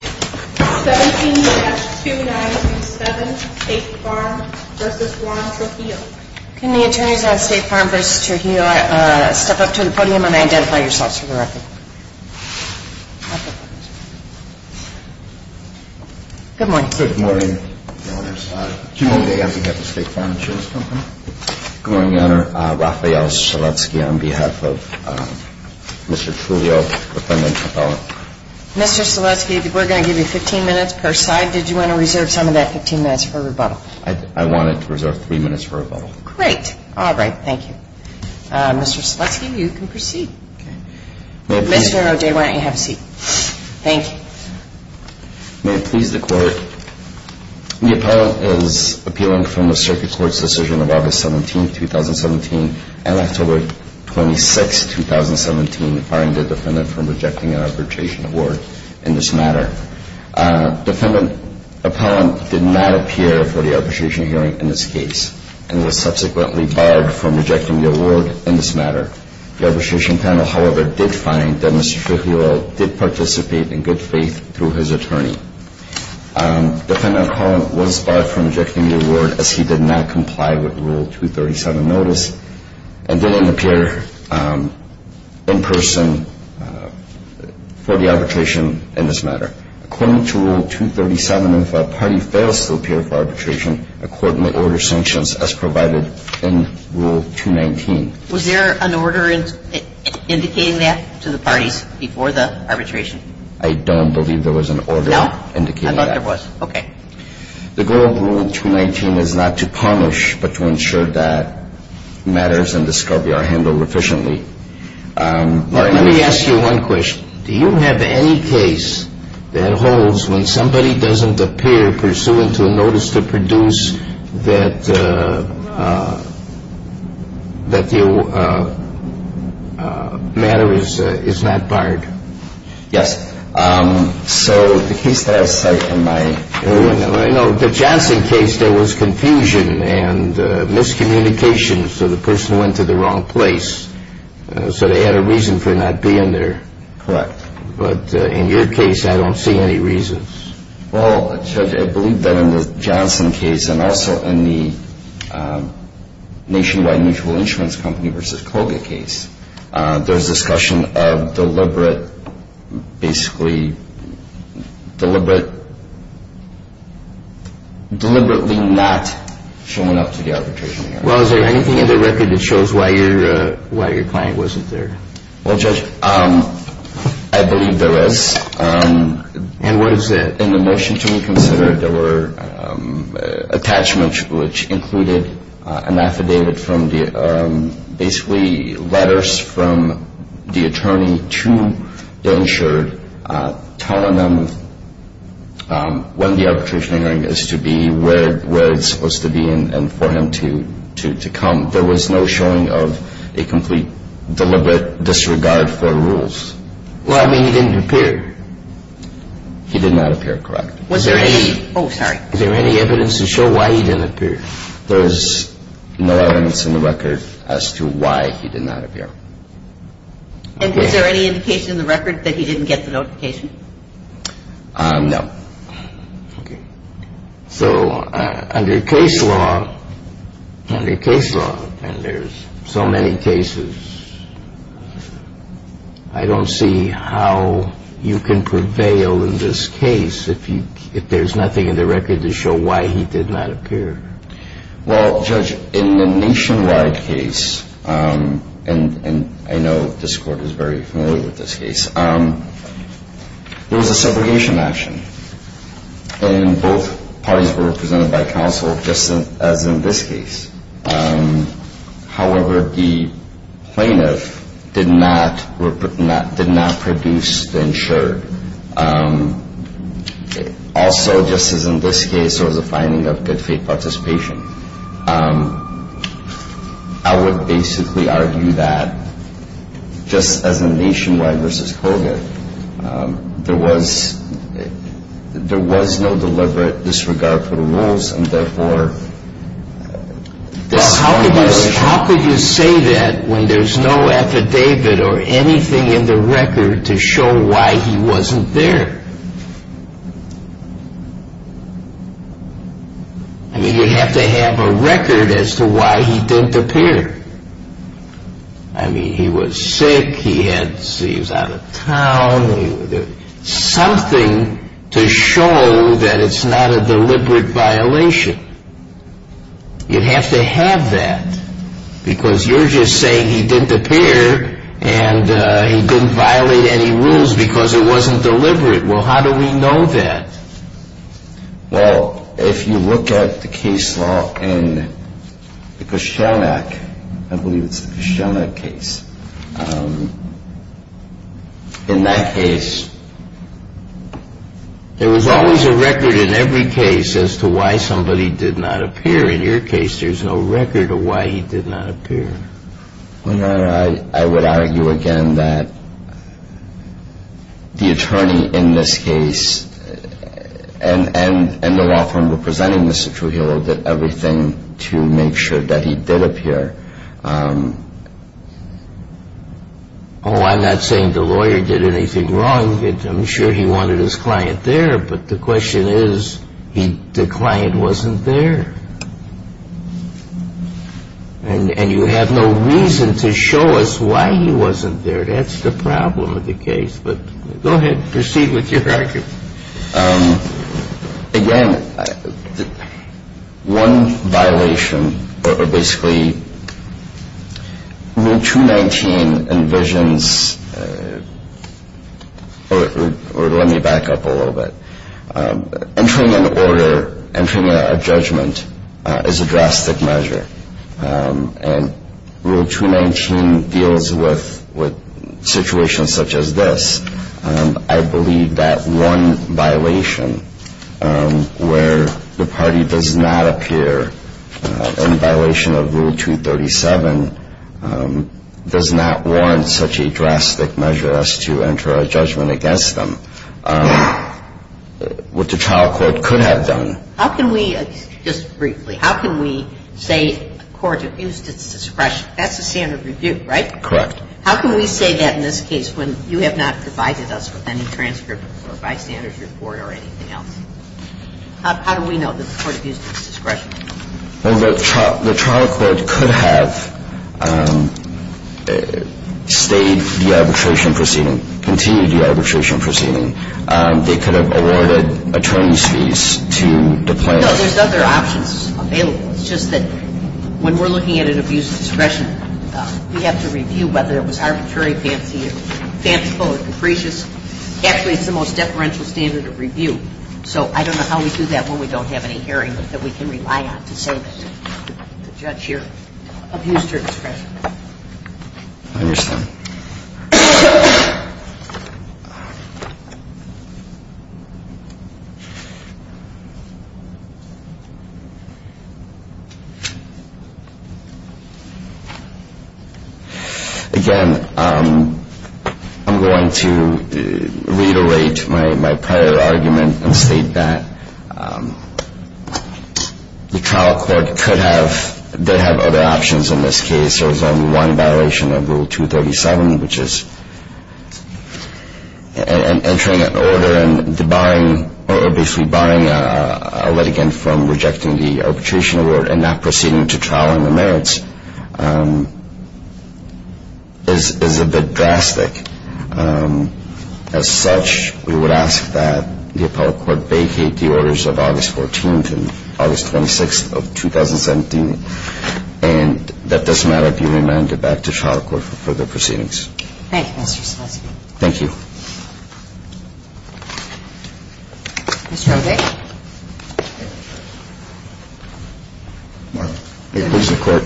Can the attorneys on State Farm v. Trujillo step up to the podium and identify yourselves for the record? Good morning. Good morning, Your Honors. Jim O'Day on behalf of State Farm Insurance Company. Good morning, Your Honor. Rafael Selesky on behalf of Mr. Trujillo, defendant, appellant. Mr. Selesky, we're going to give you 15 minutes per side. Did you want to reserve some of that 15 minutes for rebuttal? I wanted to reserve 3 minutes for rebuttal. Great. All right. Thank you. Mr. Selesky, you can proceed. Mr. O'Day, why don't you have a seat? Thank you. May it please the Court, the appellant is appealing from the Circuit Court's decision of August 17, 2017 and October 26, 2017, barring the defendant from rejecting an arbitration award in this matter. Defendant appellant did not appear for the arbitration hearing in this case and was subsequently barred from rejecting the award in this matter. The arbitration panel, however, did find that Mr. Trujillo did participate in good faith through his attorney. Defendant appellant was barred from rejecting the award as he did not comply with Rule 237 notice and didn't appear in person for the arbitration in this matter. According to Rule 237, if a party fails to appear for arbitration, a court may order sanctions as provided in Rule 219. Was there an order indicating that to the parties before the arbitration? I don't believe there was an order. No? I don't think there was. Okay. The goal of Rule 219 is not to punish, but to ensure that matters and discovery are handled efficiently. Let me ask you one question. Do you have any case that holds when somebody doesn't appear pursuant to a notice to produce that the matter is not barred? Yes. So, the case that I cite in my... In the Johnson case, there was confusion and miscommunication, so the person went to the wrong place. So, they had a reason for not being there. Correct. But in your case, I don't see any reasons. Well, Judge, I believe that in the Johnson case and also in the Nationwide Mutual Insurance Company v. Colgate case, there's discussion of deliberate, basically, deliberately not showing up to the arbitration hearing. Well, is there anything in the record that shows why your client wasn't there? Well, Judge, I believe there is. And what is it? In the motion to reconsider, there were attachments which included an affidavit from the... Basically, letters from the attorney to the insured telling them when the arbitration hearing is to be, where it's supposed to be, and for him to come. There was no showing of a complete, deliberate disregard for rules. Well, I mean, he didn't appear. He did not appear. Correct. Was there any... Oh, sorry. Is there any evidence to show why he didn't appear? There's no evidence in the record as to why he did not appear. And is there any indication in the record that he didn't get the notification? No. Okay. So, under case law, under case law, and there's so many cases, I don't see how you could prevail in this case if there's nothing in the record to show why he did not appear. Well, Judge, in the nationwide case, and I know this Court is very familiar with this case, there was a segregation action. And both parties were represented by counsel, just as in this case. However, the plaintiff did not produce the insurer. Also, just as in this case, there was a finding of good faith participation. I would basically argue that, just as in nationwide versus COVID, there was no deliberate disregard for the rules, and therefore... Well, how could you say that when there's no affidavit or anything in the record to show why he wasn't there? I mean, you have to have a record as to why he didn't appear. I mean, he was sick, he was out of town, something to show that it's not a deliberate violation. You have to have that, because you're just saying he didn't appear and he didn't violate any rules because it wasn't deliberate. Well, how do we know that? Well, if you look at the case law in the Koshanak, I believe it's the Koshanak case, in that case, there was always a record in every case as to why somebody did not appear. In your case, there's no record of why he did not appear. I would argue, again, that the attorney in this case and the law firm representing Mr. Trujillo did everything to make sure that he did appear. Oh, I'm not saying the lawyer did anything wrong. I'm sure he wanted his client there, but the question is, the client wasn't there. And you have no reason to show us why he wasn't there. That's the problem with the case. But go ahead, proceed with your argument. Again, one violation, or basically, Rule 219 envisions, or let me back up a little bit, entering an order, entering a judgment is a drastic measure. And Rule 219 deals with situations such as this. I believe that one violation where the party does not appear in violation of Rule 237 does not warrant such a drastic measure as to enter a judgment against them. And so, again, if you look at this, you can see that we're talking about a case where the trial court could have done what the trial court could have done. How can we, just briefly, how can we say a court abused its discretion? That's the standard review, right? Correct. How can we say that in this case when you have not provided us with any transcript or bystander's report or anything else? How do we know that the court abused its discretion? Well, the trial court could have stayed the arbitration proceeding, continued the arbitration proceeding. They could have awarded attorney's fees to the plaintiff. No, there's other options available. It's just that when we're looking at an abuse of discretion, we have to review whether it was arbitrary, fanciful, or capricious. Actually, it's the most deferential standard of review. So I don't know how we do that when we don't have any hearing that we can rely on to say that the judge here abused her discretion. I understand. Okay. Again, I'm going to reiterate my prior argument and state that the trial court could have, they have other options in this case. There's only one violation of Rule 237, which is entering an order and basically barring a litigant from rejecting the arbitration award and not proceeding to trial in the merits is a bit drastic. As such, we would ask that the appellate court vacate the orders of August 14th and August 26th of 2017. And that this matter be remanded back to trial court for further proceedings. Thank you, Mr. Selesky. Thank you. Mr. O'Day. May it please the Court.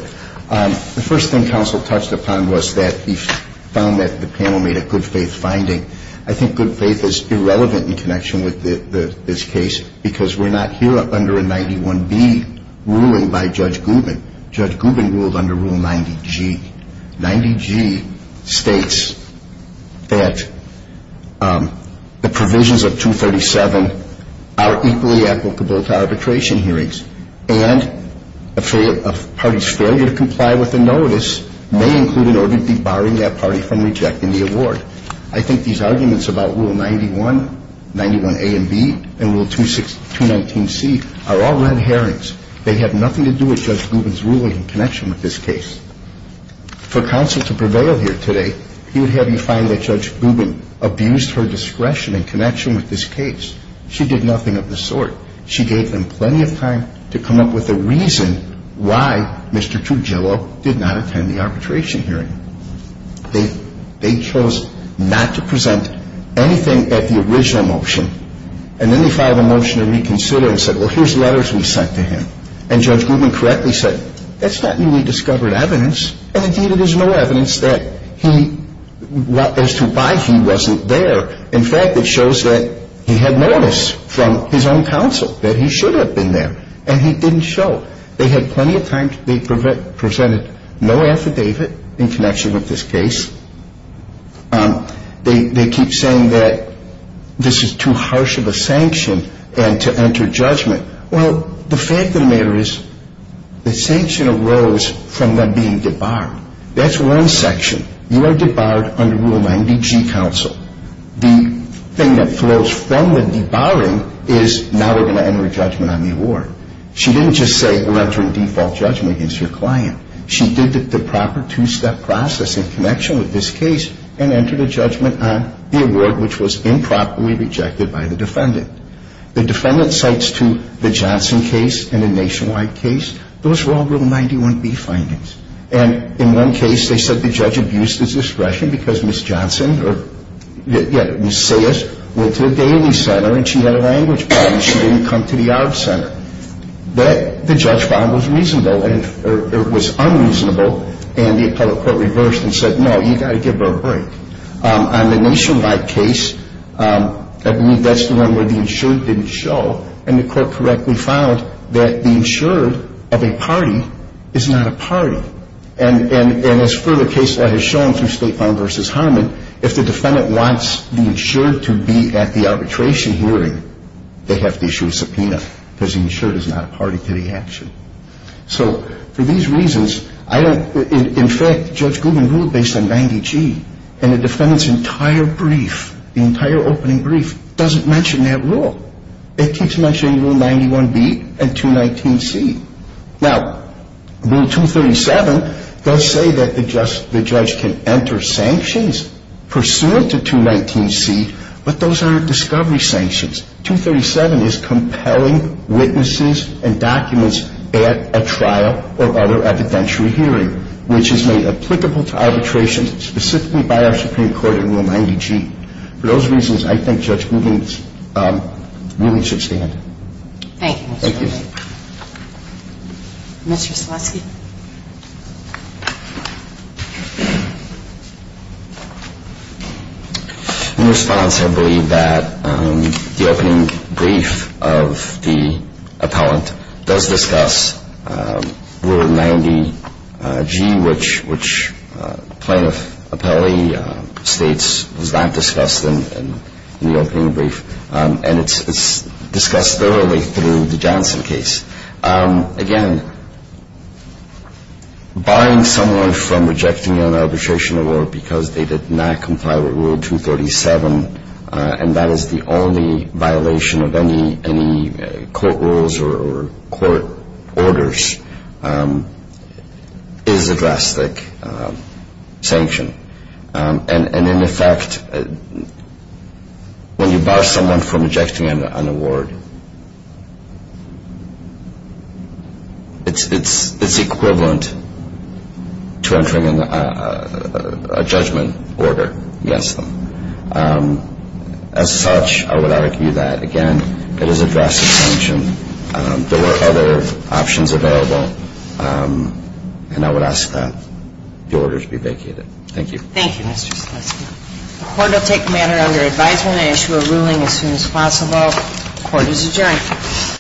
The first thing counsel touched upon was that he found that the panel made a good faith finding. I think good faith is irrelevant in connection with this case because we're not here under a 91B ruling by Judge Gubin. Judge Gubin ruled under Rule 90G. Rule 90G states that the provisions of 237 are equally applicable to arbitration hearings and a party's failure to comply with the notice may include an order debarring that party from rejecting the award. I think these arguments about Rule 91, 91A and B, and Rule 219C are all red herrings. They have nothing to do with Judge Gubin's ruling in connection with this case. For counsel to prevail here today, he would have you find that Judge Gubin abused her discretion in connection with this case. She did nothing of the sort. She gave them plenty of time to come up with a reason why Mr. Tugelo did not attend the arbitration hearing. They chose not to present anything at the original motion, and then they filed a motion to reconsider and said, well, here's letters we sent to him, and Judge Gubin correctly said, that's not newly discovered evidence, and, indeed, it is no evidence that he, as to why he wasn't there. In fact, it shows that he had notice from his own counsel that he should have been there, and he didn't show. They had plenty of time. They presented no affidavit in connection with this case. They keep saying that this is too harsh of a sanction and to enter judgment. Well, the fact of the matter is the sanction arose from them being debarred. That's one section. You are debarred under Rule 90G, counsel. The thing that flows from the debarring is now we're going to enter a judgment on the award. She didn't just say, we're entering default judgment against your client. She did the proper two-step process in connection with this case and entered a judgment on the award, which was improperly rejected by the defendant. The defendant cites to the Johnson case and the Nationwide case, those were all Rule 91B findings. And in one case, they said the judge abused his discretion because Ms. Johnson, or, yeah, Ms. Sayers, went to the Daly Center, and she had a language problem. She didn't come to the Arb Center. But the judge found it was reasonable, or it was unreasonable, and the appellate court reversed and said, no, you've got to give her a break. On the Nationwide case, I believe that's the one where the insured didn't show, and the court correctly found that the insured of a party is not a party. And as further case law has shown through State Farm v. Harman, if the defendant wants the insured to be at the arbitration hearing, they have to issue a subpoena because the insured is not a party to the action. So for these reasons, I don't ‑‑ in fact, Judge Goodman ruled based on 90G, and the defendant's entire brief, the entire opening brief, doesn't mention that rule. It keeps mentioning Rule 91B and 219C. Now, Rule 237 does say that the judge can enter sanctions pursuant to 219C, but those are discovery sanctions. 237 is compelling witnesses and documents at a trial or other evidentiary hearing, which is made applicable to arbitration specifically by our Supreme Court in Rule 90G. For those reasons, I think Judge Goodman's ruling should stand. Thank you, Mr. Goodman. Thank you. Mr. Stileski. In response, I believe that the opening brief of the appellant does discuss Rule 90G, which plaintiff appellee states was not discussed in the opening brief, and it's discussed thoroughly through the Johnson case. Again, barring someone from rejecting an arbitration award because they did not comply with Rule 237, and that is the only violation of any court rules or court orders, is a drastic sanction. And in effect, when you bar someone from rejecting an award, it's equivalent to entering a judgment order against them. As such, I would argue that, again, it is a drastic sanction. Thank you. Thank you, Mr. Stileski. The Court will take matter under advisement. I issue a ruling as soon as possible. Court is adjourned.